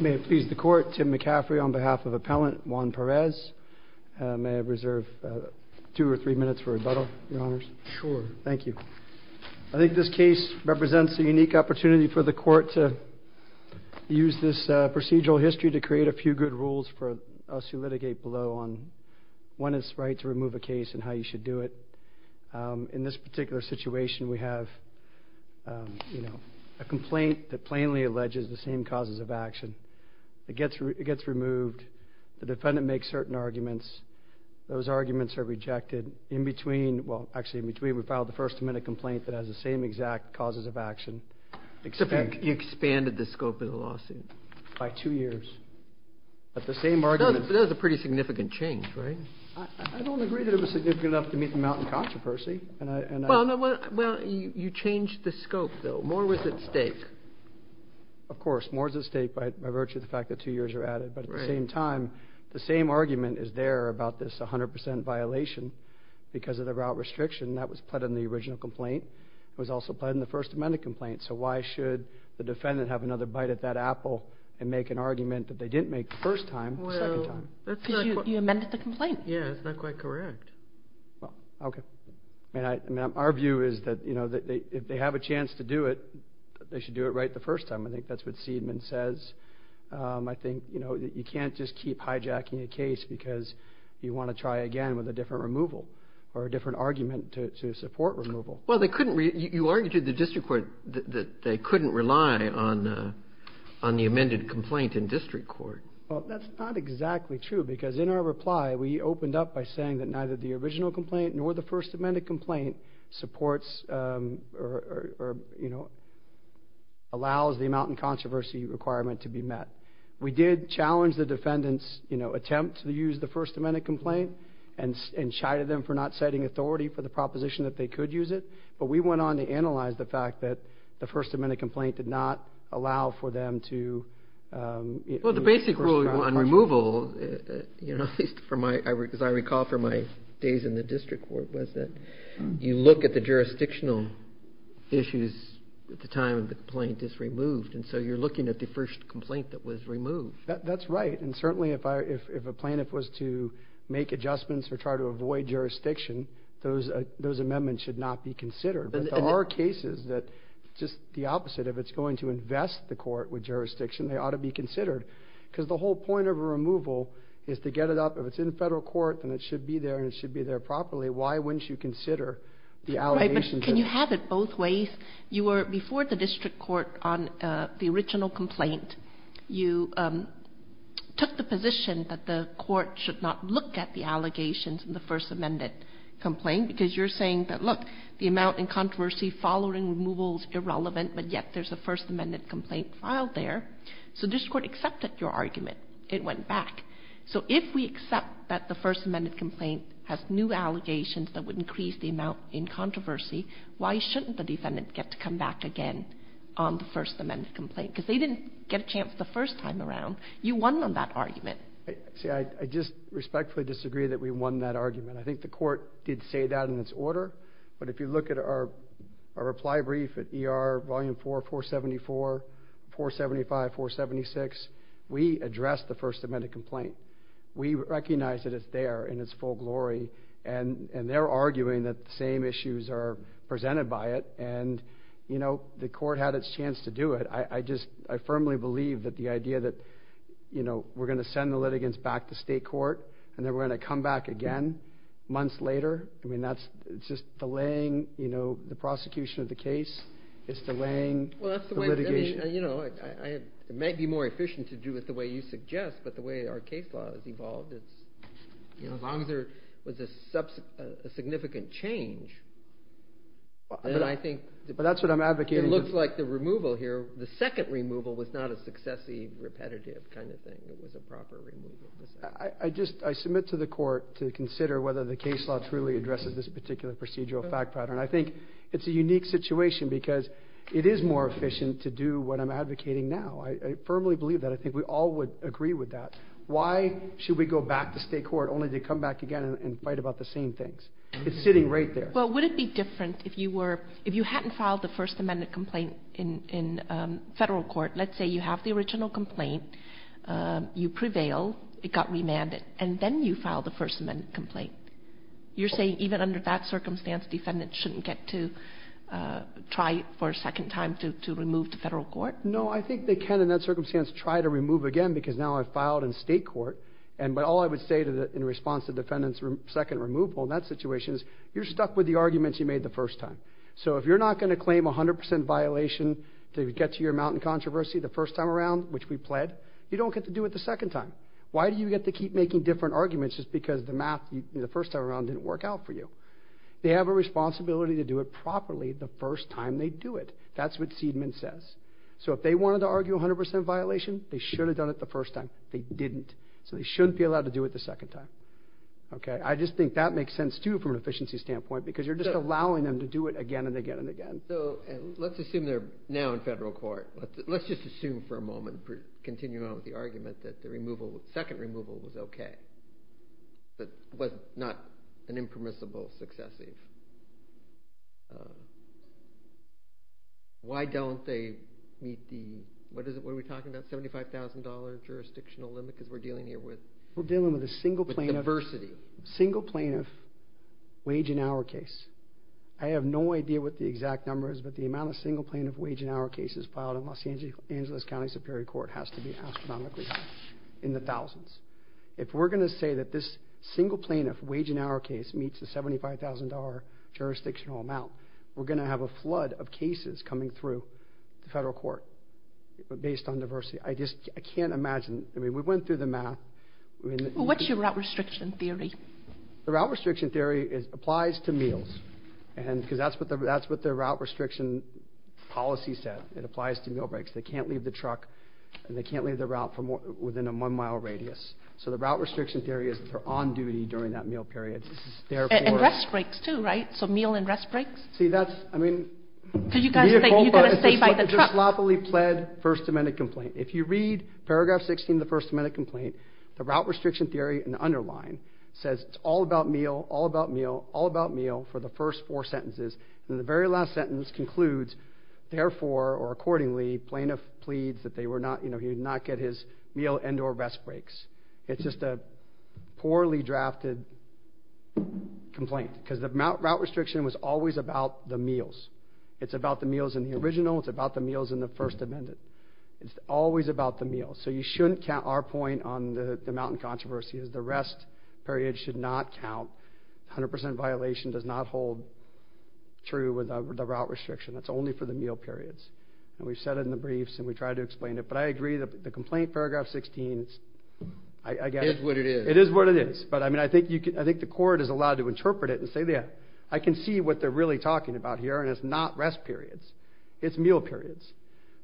May it please the Court, Tim McCaffrey on behalf of Appellant Juan Perez. May I reserve two or three minutes for rebuttal, Your Honors? Sure. Thank you. I think this case represents a unique opportunity for the Court to use this procedural history to create a few good rules for us who litigate below on when it's right to remove a case and how you should do it. In this particular situation, we have a complaint that plainly alleges the same causes of action. It gets removed. The defendant makes certain arguments. Those arguments are rejected. In between, well actually in between, we filed the first amendment complaint that has the same exact causes of action. You expanded the scope of the lawsuit? By two years. That's a pretty significant change, right? I don't agree that it was significant enough to meet the mountain controversy. Well, you changed the scope, though. More was at stake. Of course. More is at stake by virtue of the fact that two years are added. But at the same time, the same argument is there about this 100 percent violation because of the route restriction. That was put in the original complaint. It was also put in the first amendment complaint. So why should the defendant have another bite at that apple and make an argument that they didn't make the first time the second time? Because you amended the complaint. Yeah, that's not quite correct. Okay. Our view is that if they have a chance to do it, they should do it right the first time. I think that's what Seidman says. I think you can't just keep hijacking a case because you want to try again with a different removal or a different argument to support removal. Well, you argued to the district court that they couldn't rely on the amended complaint in district court. Well, that's not exactly true, because in our reply, we opened up by saying that neither the original complaint nor the first amendment complaint supports or, you know, allows the mountain controversy requirement to be met. We did challenge the defendant's, you know, attempt to use the first amendment complaint and chided them for not setting authority for the proposition that they could use it. But we went on to analyze the fact that the first amendment complaint did not allow for them to... Well, the basic rule on removal, you know, as I recall from my days in the district court, was that you look at the jurisdictional issues at the time the complaint is removed. And so you're looking at the first complaint that was removed. That's right. And certainly if a plaintiff was to make adjustments or try to avoid jurisdiction, those amendments should not be considered. But there are cases that just the opposite, if it's going to invest the court with jurisdiction, they ought to be considered. Because the whole point of a removal is to get it up. If it's in federal court, then it should be there and it should be there properly. Why wouldn't you consider the allegations? But can you have it both ways? You were before the district court on the original complaint. You took the position that the court should not look at the allegations in the first amendment complaint, because you're saying that, look, the amount in controversy following removal is irrelevant, but yet there's a first amendment complaint filed there. So district court accepted your argument. It went back. So if we accept that the first amendment complaint has new allegations that would increase the amount in controversy, why shouldn't the defendant get to come back again on the first amendment complaint? Because they didn't get a chance the first time around. You won on that argument. See, I just respectfully disagree that we won that argument. I think the court did say that in its order. But if you look at our reply brief at ER Volume 4, 474, 475, 476, we addressed the first amendment complaint. We recognize that it's there in its full glory. And they're arguing that the same issues are presented by it. And the court had its chance to do it. I firmly believe that the idea that we're going to send the litigants back to state court and then we're going to come back again months later, I mean, that's just delaying the prosecution of the case. It's delaying the litigation. It might be more efficient to do it the way you suggest. But the way our case law has evolved, as long as there was a significant change, then I think it looks like the removal here, the second removal was not a successively repetitive kind of thing. It was a proper removal. I submit to the court to consider whether the case law truly addresses this particular procedural fact pattern. I think it's a unique situation because it is more efficient to do what I'm advocating now. I firmly believe that. I think we all would agree with that. Why should we go back to state court only to come back again and fight about the same things? It's sitting right there. Well, would it be different if you were ‑‑ if you hadn't filed the First Amendment complaint in federal court, let's say you have the original complaint, you prevail, it got remanded, and then you file the First Amendment complaint. You're saying even under that circumstance, defendants shouldn't get to try for a second time to remove to federal court? No, I think they can in that circumstance try to remove again because now I've filed in state court. But all I would say in response to defendants' second removal in that situation is you're stuck with the arguments you made the first time. So if you're not going to claim 100% violation to get to your mountain controversy the first time around, which we pled, you don't get to do it the second time. Why do you get to keep making different arguments just because the math the first time around didn't work out for you? They have a responsibility to do it properly the first time they do it. That's what Seidman says. So if they wanted to argue 100% violation, they should have done it the first time. They didn't. So they shouldn't be allowed to do it the second time. I just think that makes sense too from an efficiency standpoint because you're just allowing them to do it again and again and again. So let's assume they're now in federal court. Let's just assume for a moment, continuing on with the argument, that the second removal was okay, that it was not an impermissible successive. Why don't they meet the, what are we talking about, $75,000 jurisdictional limit because we're dealing here with diversity? We're dealing with a single plaintiff wage and hour case. I have no idea what the exact number is, but the amount of single plaintiff wage and hour cases filed in Los Angeles County Superior Court has to be astronomically high, in the thousands. If we're going to say that this single plaintiff wage and hour case meets the $75,000 jurisdictional amount, we're going to have a flood of cases coming through the federal court based on diversity. I just can't imagine. I mean, we went through the math. What's your route restriction theory? The route restriction theory applies to meals because that's what the route restriction policy said. It applies to meal breaks. They can't leave the truck and they can't leave the route within a one-mile radius. So the route restriction theory is that they're on duty during that meal period. And rest breaks too, right? So meal and rest breaks? See, that's, I mean, it's a sloppily pled First Amendment complaint. If you read paragraph 16 of the First Amendment complaint, the route restriction theory in the underline says it's all about meal, all about meal, all about meal for the first four sentences, and the very last sentence concludes, therefore, or accordingly, plaintiff pleads that they were not, you know, he would not get his meal and or rest breaks. It's just a poorly drafted complaint because the route restriction was always about the meals. It's about the meals in the original. It's about the meals in the First Amendment. It's always about the meals. So you shouldn't count our point on the mountain controversy is the rest period should not count. 100% violation does not hold true with the route restriction. That's only for the meal periods. And we've said it in the briefs, and we've tried to explain it. But I agree that the complaint, paragraph 16, I get it. It is what it is. It is what it is. But, I mean, I think the court is allowed to interpret it and say, yeah, I can see what they're really talking about here, and it's not rest periods. It's meal periods.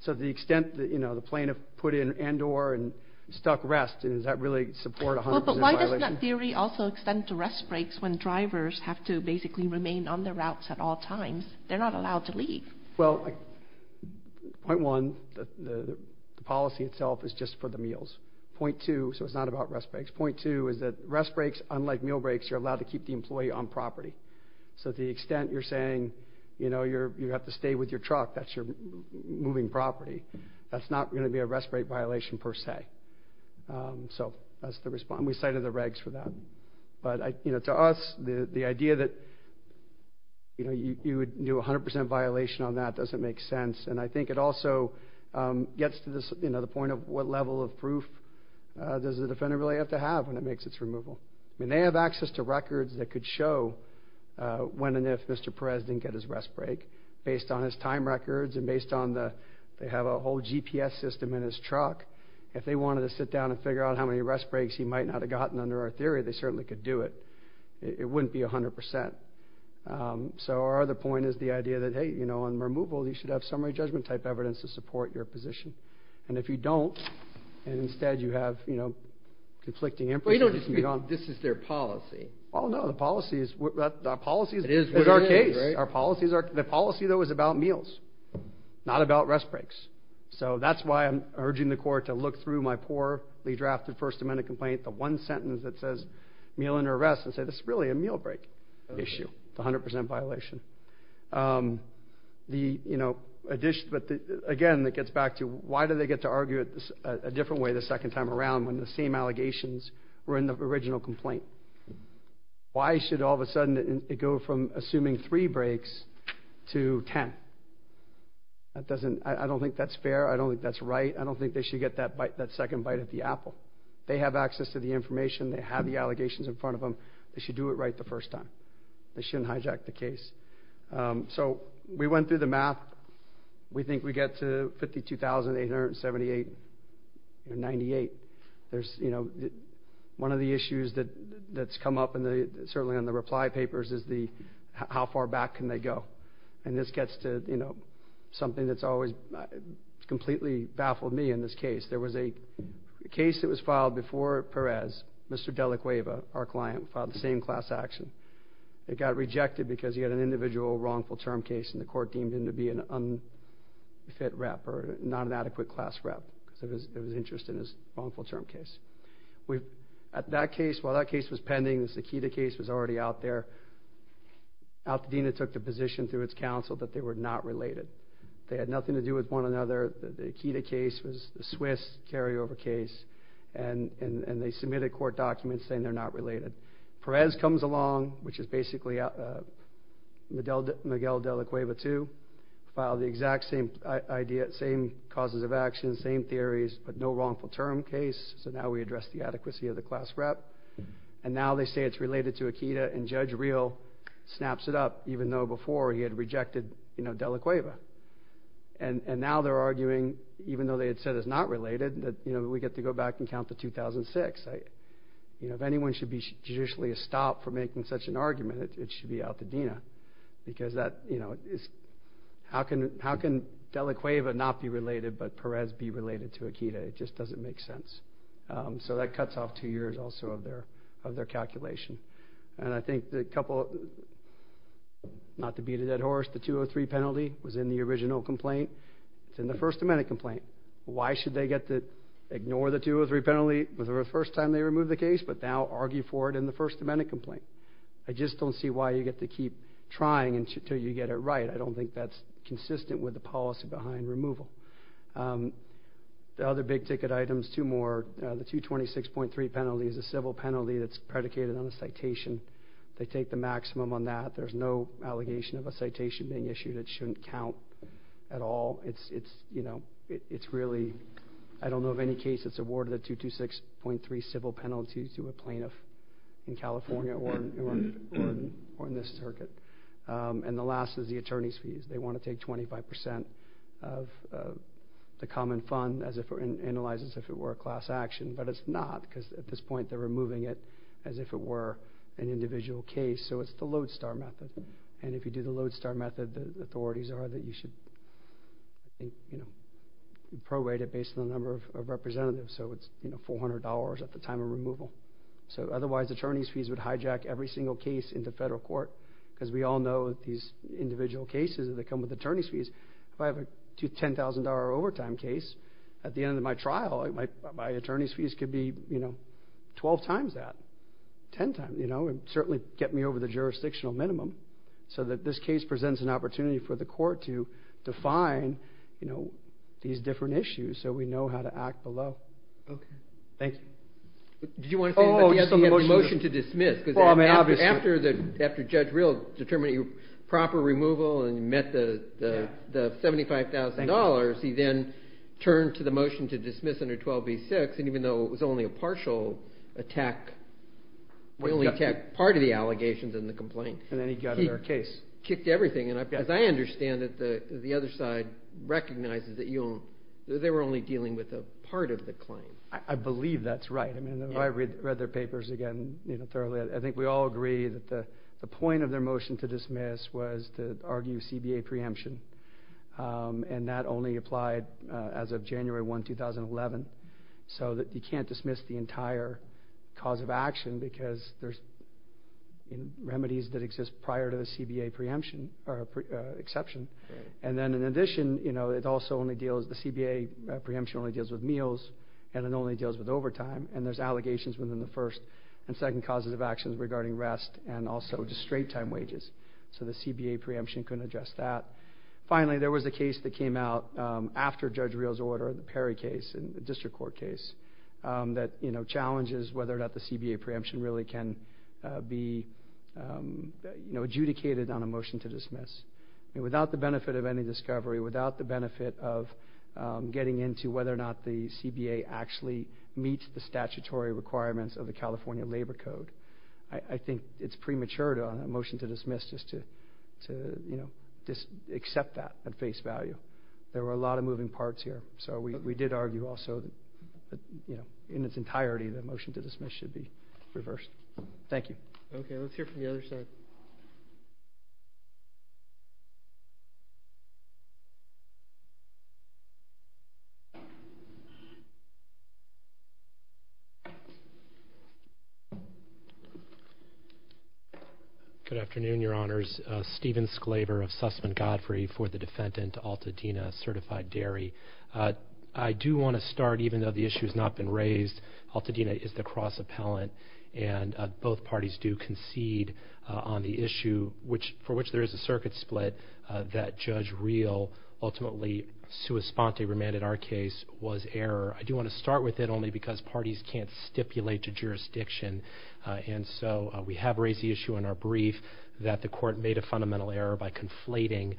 So the extent that, you know, the plaintiff put in and or and stuck rest, does that really support 100% violation? Doesn't that theory also extend to rest breaks when drivers have to basically remain on the routes at all times? They're not allowed to leave. Well, point one, the policy itself is just for the meals. Point two, so it's not about rest breaks. Point two is that rest breaks, unlike meal breaks, you're allowed to keep the employee on property. So to the extent you're saying, you know, you have to stay with your truck, that's your moving property, that's not going to be a rest break violation per se. So that's the response. And we cited the regs for that. But, you know, to us, the idea that, you know, you would do 100% violation on that doesn't make sense. And I think it also gets to this, you know, the point of what level of proof does the defendant really have to have when it makes its removal. I mean, they have access to records that could show when and if Mr. Perez didn't get his rest break, based on his time records and based on the they have a whole GPS system in his truck. If they wanted to sit down and figure out how many rest breaks he might not have gotten under our theory, they certainly could do it. It wouldn't be 100%. So our other point is the idea that, hey, you know, on removal, you should have summary judgment type evidence to support your position. And if you don't, and instead you have, you know, conflicting information. This is their policy. Oh, no. The policy is with our case. The policy, though, is about meals, not about rest breaks. So that's why I'm urging the court to look through my poorly drafted First Amendment complaint, the one sentence that says meal under arrest, and say this is really a meal break issue. It's 100% violation. The, you know, again, it gets back to why do they get to argue it a different way the second time around when the same allegations were in the original complaint? Why should all of a sudden it go from assuming three breaks to ten? That doesn't, I don't think that's fair. I don't think that's right. I don't think they should get that second bite at the apple. They have access to the information. They have the allegations in front of them. They should do it right the first time. They shouldn't hijack the case. So we went through the math. We think we get to 52,878 or 98. There's, you know, one of the issues that's come up certainly on the reply papers is the how far back can they go? And this gets to, you know, something that's always completely baffled me in this case. There was a case that was filed before Perez. Mr. De La Cueva, our client, filed the same class action. It got rejected because he had an individual wrongful term case, and the court deemed him to be an unfit rep or not an adequate class rep because there was interest in his wrongful term case. At that case, while that case was pending, the Sakida case was already out there. Altadena took the position through its counsel that they were not related. They had nothing to do with one another. The Akita case was the Swiss carryover case, and they submitted court documents saying they're not related. Perez comes along, which is basically Miguel De La Cueva too, filed the exact same causes of action, same theories, but no wrongful term case. So now we address the adequacy of the class rep. And now they say it's related to Akita, and Judge Real snaps it up, even though before he had rejected De La Cueva. And now they're arguing, even though they had said it's not related, that we get to go back and count to 2006. If anyone should be judicially stopped for making such an argument, it should be Altadena because how can De La Cueva not be related, but Perez be related to Akita? It just doesn't make sense. So that cuts off two years also of their calculation. And I think the couple, not to beat a dead horse, the 203 penalty was in the original complaint. It's in the First Amendment complaint. Why should they get to ignore the 203 penalty? It was the first time they removed the case, but now argue for it in the First Amendment complaint. I just don't see why you get to keep trying until you get it right. I don't think that's consistent with the policy behind removal. The other big ticket items, two more. The 226.3 penalty is a civil penalty that's predicated on a citation. They take the maximum on that. There's no allegation of a citation being issued. It shouldn't count at all. It's really, I don't know of any case that's awarded a 226.3 civil penalty to a plaintiff in California or in this circuit. And the last is the attorney's fees. They want to take 25% of the common fund and analyze it as if it were a class action, but it's not because at this point they're removing it as if it were an individual case. So it's the lodestar method. And if you do the lodestar method, the authorities are that you should probate it based on the number of representatives. So it's $400 at the time of removal. Otherwise, attorney's fees would hijack every single case into federal court because we all know that these individual cases, they come with attorney's fees. If I have a $10,000 overtime case, at the end of my trial, my attorney's fees could be 12 times that, 10 times, and certainly get me over the jurisdictional minimum so that this case presents an opportunity for the court to define these different issues so we know how to act below. Thank you. Did you want to say anything else? He had a motion to dismiss. After Judge Reel determined proper removal and met the $75,000, he then turned to the motion to dismiss under 12b-6, and even though it was only a partial attack, we only attacked part of the allegations in the complaint. And then he got out of their case. He kicked everything. As I understand it, the other side recognizes that they were only dealing with a part of the claim. I believe that's right. I read their papers again thoroughly. I think we all agree that the point of their motion to dismiss was to argue CBA preemption, and that only applied as of January 1, 2011, so that you can't dismiss the entire cause of action because there's remedies that exist prior to the CBA exception. And then in addition, the CBA preemption only deals with meals, and it only deals with overtime, and there's allegations within the first and second causes of actions regarding rest and also just straight-time wages. So the CBA preemption couldn't address that. Finally, there was a case that came out after Judge Reel's order, the Perry case and the district court case, that challenges whether or not the CBA preemption really can be adjudicated on a motion to dismiss. Without the benefit of any discovery, without the benefit of getting into whether or not the CBA actually meets the statutory requirements of the California Labor Code, I think it's premature on a motion to dismiss just to accept that at face value. There were a lot of moving parts here, so we did argue also that in its entirety, the motion to dismiss should be reversed. Thank you. Okay, let's hear from the other side. Good afternoon, Your Honors. Steven Sclaver of Sussman Godfrey for the defendant, Altadena Certified Dairy. I do want to start, even though the issue has not been raised, Altadena is the cross-appellant, and both parties do concede on the issue, for which there is a circuit split, that Judge Reel ultimately sua sponte remanded our case was error. I do want to start with it only because parties can't stipulate to jurisdiction, and so we have raised the issue in our brief that the court made a fundamental error by conflating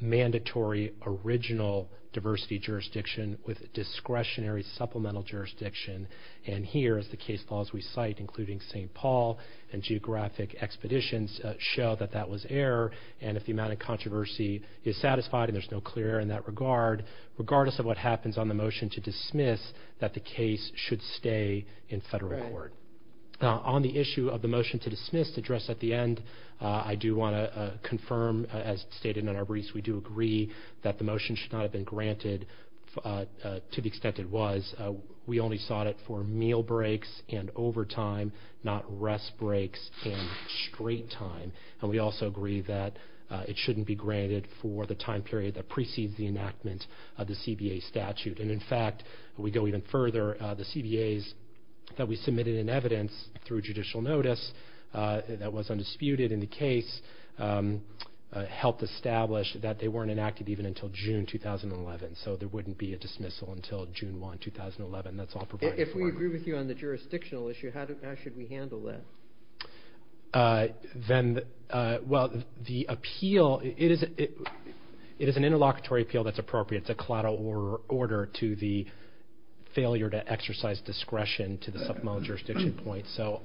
mandatory original diversity jurisdiction with discretionary supplemental jurisdiction, and here, as the case laws we cite, including St. Paul and geographic expeditions, show that that was error, and if the amount of controversy is satisfied and there's no clear error in that regard, regardless of what happens on the motion to dismiss, that the case should stay in federal court. On the issue of the motion to dismiss addressed at the end, I do want to confirm, as stated in our briefs, that we do agree that the motion should not have been granted to the extent it was. We only sought it for meal breaks and overtime, not rest breaks and straight time, and we also agree that it shouldn't be granted for the time period that precedes the enactment of the CBA statute, and, in fact, we go even further. The CBAs that we submitted in evidence through judicial notice that was undisputed in the case helped establish that they weren't enacted even until June 2011, so there wouldn't be a dismissal until June 1, 2011. That's all provided for. If we agree with you on the jurisdictional issue, how should we handle that? Well, the appeal, it is an interlocutory appeal that's appropriate. It's a collateral order to the failure to exercise discretion to the supplemental jurisdiction point, so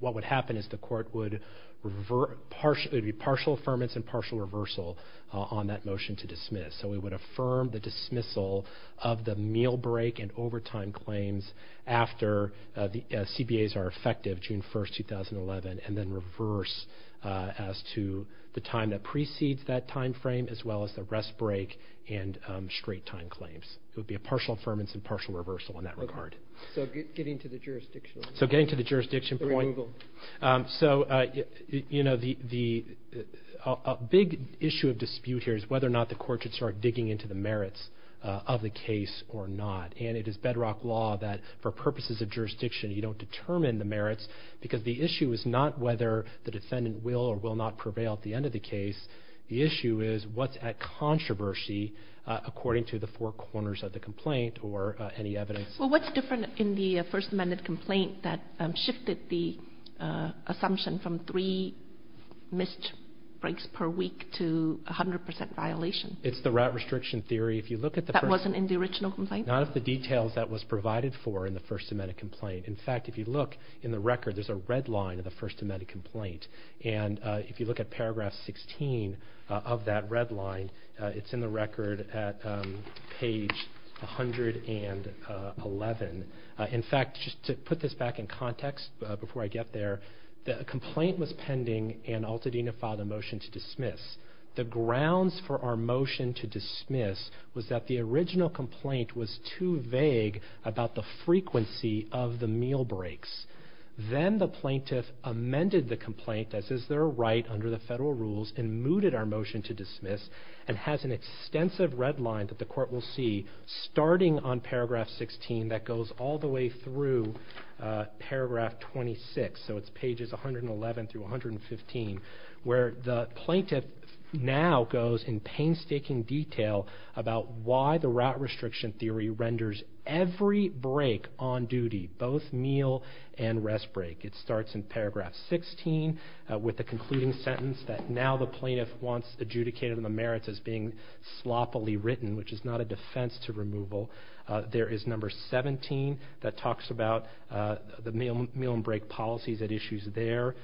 what would happen is the court would be partial affirmance and partial reversal on that motion to dismiss, so we would affirm the dismissal of the meal break and overtime claims after the CBAs are effective June 1, 2011 and then reverse as to the time that precedes that time frame as well as the rest break and straight time claims. It would be a partial affirmance and partial reversal in that regard. Okay, so getting to the jurisdictional issue. So getting to the jurisdiction point. So, you know, the big issue of dispute here is whether or not the court should start digging into the merits of the case or not, and it is bedrock law that for purposes of jurisdiction you don't determine the merits because the issue is not whether the defendant will or will not prevail at the end of the case. The issue is what's at controversy according to the four corners of the complaint or any evidence. Well, what's different in the First Amendment complaint that shifted the assumption from three missed breaks per week to 100% violation? It's the route restriction theory. That wasn't in the original complaint? None of the details that was provided for in the First Amendment complaint. In fact, if you look in the record, there's a red line of the First Amendment complaint, and if you look at paragraph 16 of that red line, it's in the record at page 111. In fact, just to put this back in context before I get there, the complaint was pending and Altadena filed a motion to dismiss. The grounds for our motion to dismiss was that the original complaint was too vague about the frequency of the meal breaks. Then the plaintiff amended the complaint, as is their right under the federal rules, and mooted our motion to dismiss and has an extensive red line that the court will see starting on paragraph 16 that goes all the way through paragraph 26, so it's pages 111 through 115, where the plaintiff now goes in painstaking detail about why the route restriction theory renders every break on duty, both meal and rest break. It starts in paragraph 16 with the concluding sentence that now the plaintiff wants adjudicated on the merits as being sloppily written, which is not a defense to removal. There is number 17 that talks about the meal and break policies at issues there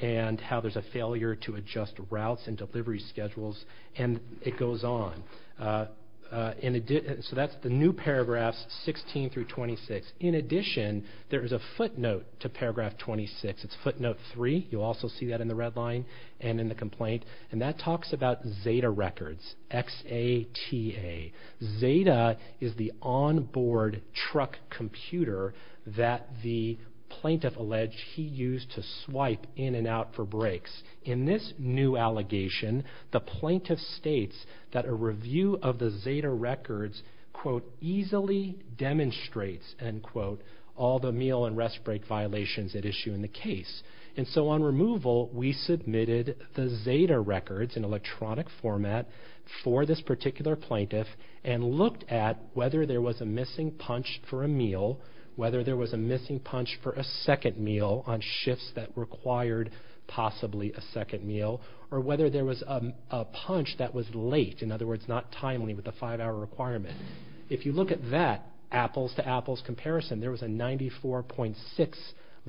and how there's a failure to adjust routes and delivery schedules, and it goes on. So that's the new paragraphs 16 through 26. In addition, there is a footnote to paragraph 26. It's footnote 3. You'll also see that in the red line and in the complaint, and that talks about Zeta Records, X-A-T-A. Zeta is the onboard truck computer that the plaintiff alleged he used to swipe in and out for breaks. In this new allegation, the plaintiff states that a review of the Zeta Records, quote, easily demonstrates, end quote, all the meal and rest break violations at issue in the case. And so on removal, we submitted the Zeta Records in electronic format for this particular plaintiff and looked at whether there was a missing punch for a meal, whether there was a missing punch for a second meal on shifts that required possibly a second meal, or whether there was a punch that was late, in other words, not timely with a five-hour requirement. If you look at that apples-to-apples comparison, there was a 94.6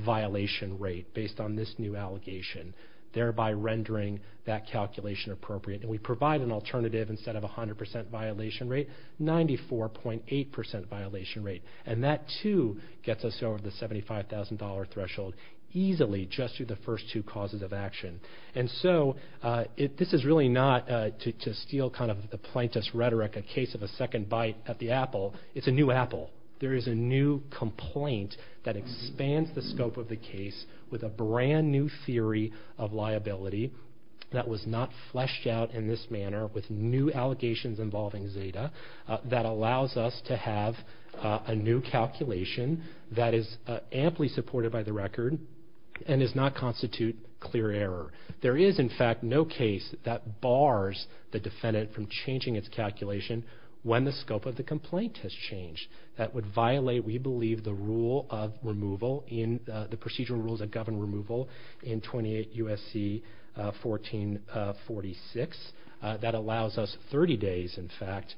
violation rate based on this new allegation, thereby rendering that calculation appropriate. And we provide an alternative instead of 100 percent violation rate, 94.8 percent violation rate. And that, too, gets us over the $75,000 threshold easily just through the first two causes of action. And so this is really not, to steal kind of the plaintiff's rhetoric, a case of a second bite at the apple. It's a new apple. There is a new complaint that expands the scope of the case with a brand-new theory of liability that was not fleshed out in this manner with new allegations involving Zeta that allows us to have a new calculation that is amply supported by the record and does not constitute clear error. There is, in fact, no case that bars the defendant from changing its calculation when the scope of the complaint has changed. That would violate, we believe, the rule of removal in the procedural rules that govern removal in 28 U.S.C. 1446. That allows us 30 days, in fact,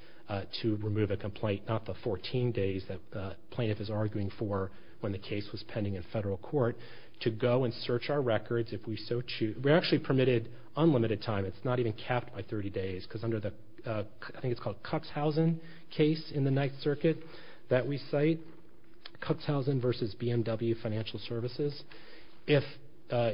to remove a complaint, not the 14 days that the plaintiff is arguing for when the case was pending in federal court, to go and search our records if we so choose. We're actually permitted unlimited time. It's not even capped by 30 days because under the, I think it's called Cuxhausen case in the Ninth Circuit that we cite, Cuxhausen versus BMW Financial Services, if a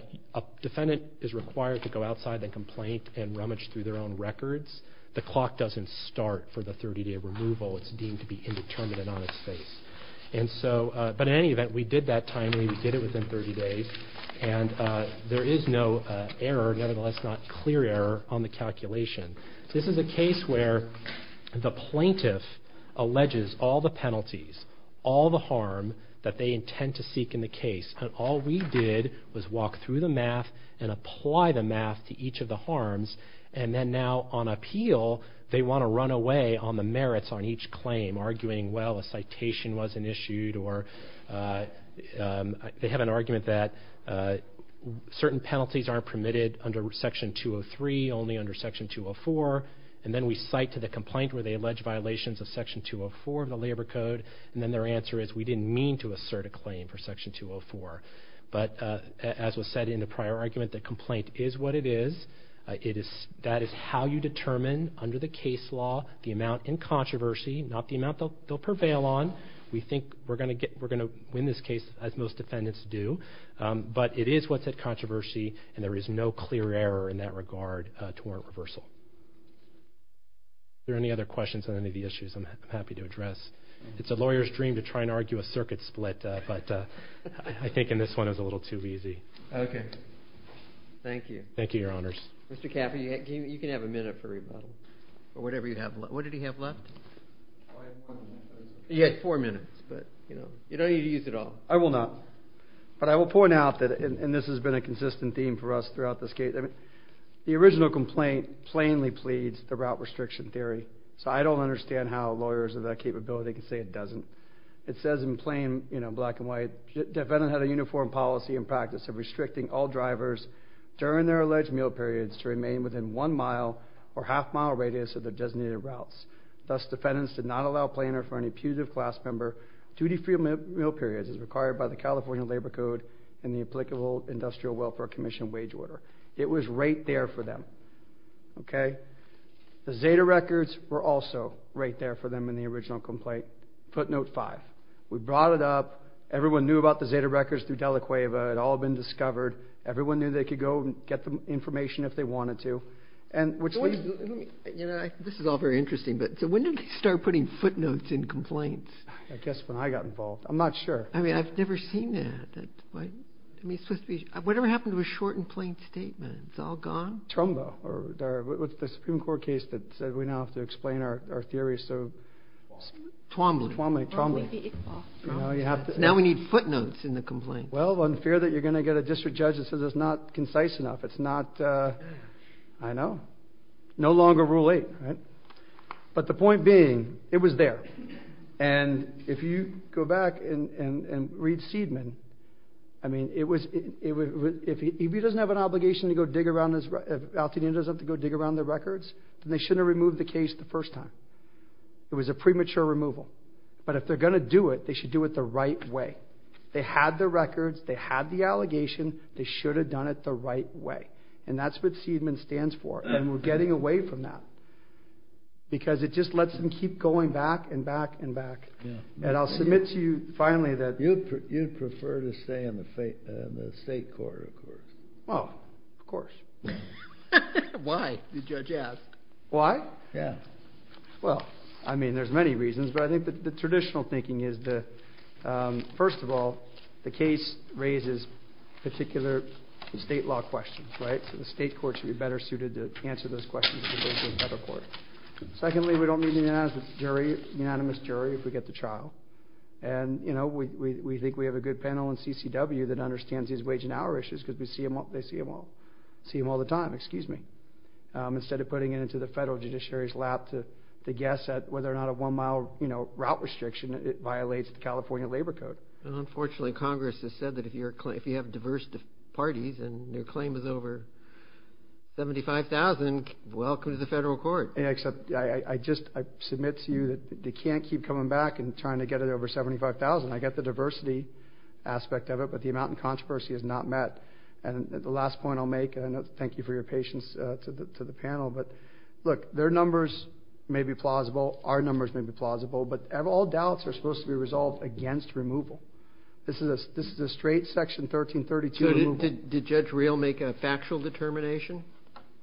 defendant is required to go outside and complaint and rummage through their own records, the clock doesn't start for the 30-day removal. It's deemed to be indeterminate on its face. But in any event, we did that timely. We did it within 30 days, and there is no error, nevertheless not clear error, on the calculation. This is a case where the plaintiff alleges all the penalties, all the harm that they intend to seek in the case. And all we did was walk through the math and apply the math to each of the harms. And then now on appeal, they want to run away on the merits on each claim, arguing, well, a citation wasn't issued or they have an argument that certain penalties aren't permitted under Section 203, only under Section 204. And then we cite to the complaint where they allege violations of Section 204 of the Labor Code. And then their answer is, we didn't mean to assert a claim for Section 204. But as was said in the prior argument, the complaint is what it is. That is how you determine, under the case law, the amount in controversy, not the amount they'll prevail on. We think we're going to win this case, as most defendants do. But it is what's at controversy, and there is no clear error in that regard to warrant reversal. Are there any other questions on any of the issues I'm happy to address? It's a lawyer's dream to try and argue a circuit split, but I think in this one it was a little too easy. Okay. Thank you. Thank you, Your Honors. Mr. Caffey, you can have a minute for rebuttal or whatever you have left. What did he have left? He had four minutes, but, you know, you don't need to use it all. I will not. But I will point out that, and this has been a consistent theme for us throughout this case, the original complaint plainly pleads the route restriction theory. So I don't understand how lawyers of that capability can say it doesn't. It says in plain, you know, black and white, defendant had a uniform policy and practice of restricting all drivers during their alleged meal periods to remain within one mile or half mile radius of their designated routes. Thus, defendants did not allow planner for an impugnative class member duty-free meal periods as required by the California Labor Code and the applicable Industrial Welfare Commission wage order. It was right there for them. Okay? The Zeta records were also right there for them in the original complaint, footnote five. We brought it up. Everyone knew about the Zeta records through Della Cueva. It had all been discovered. Everyone knew they could go and get the information if they wanted to. This is all very interesting, but when did we start putting footnotes in complaints? I guess when I got involved. I'm not sure. I mean, I've never seen that. Whatever happened to a short and plain statement? It's all gone? Trumbo. What's the Supreme Court case that said we now have to explain our theories? Twombly. Twombly. Twombly. Now we need footnotes in the complaint. Well, one fear that you're going to get a district judge that says it's not concise enough. It's not, I know, no longer rule eight, right? But the point being, it was there. And if you go back and read Seidman, I mean, if he doesn't have an obligation to go dig around his records, then they shouldn't have removed the case the first time. It was a premature removal. But if they're going to do it, they should do it the right way. They had the records. They had the allegation. They should have done it the right way. And that's what Seidman stands for. And we're getting away from that because it just lets them keep going back and back and back. And I'll submit to you finally that. You'd prefer to stay in the state court, of course. Well, of course. Why, the judge asked. Why? Yeah. Well, I mean, there's many reasons. But I think the traditional thinking is that, first of all, the case raises particular state law questions, right? So the state court should be better suited to answer those questions than the federal court. Secondly, we don't need a unanimous jury if we get the trial. And, you know, we think we have a good panel in CCW that understands these wage and hour issues because they see them all the time instead of putting it into the federal judiciary's lap to guess whether or not a one-mile route restriction violates the California Labor Code. Unfortunately, Congress has said that if you have diverse parties and your claim is over 75,000, welcome to the federal court. Except I just submit to you that they can't keep coming back and trying to get it over 75,000. I get the diversity aspect of it, but the amount of controversy is not met. And the last point I'll make, and I thank you for your patience to the panel, but, look, their numbers may be plausible. Our numbers may be plausible. But all doubts are supposed to be resolved against removal. This is a straight Section 1332 removal. So did Judge Real make a factual determination?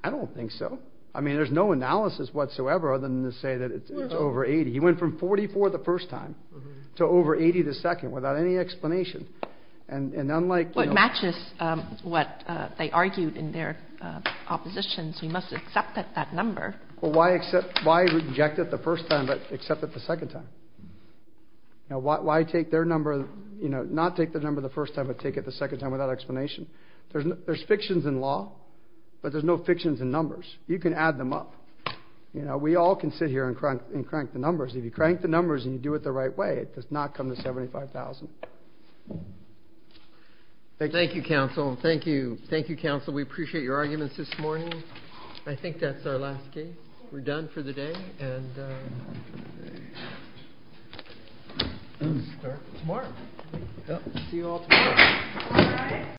I don't think so. I mean, there's no analysis whatsoever other than to say that it's over 80. He went from 44 the first time to over 80 the second without any explanation. And unlike, you know ---- Well, it matches what they argued in their opposition, so you must accept that number. Well, why reject it the first time but accept it the second time? You know, why take their number, you know, not take their number the first time but take it the second time without explanation? There's fictions in law, but there's no fictions in numbers. You can add them up. You know, we all can sit here and crank the numbers. If you crank the numbers and you do it the right way, it does not come to 75,000. Thank you, Counsel. Thank you. Thank you, Counsel. We appreciate your arguments this morning. I think that's our last case. We're done for the day, and we'll start tomorrow. See you all tomorrow.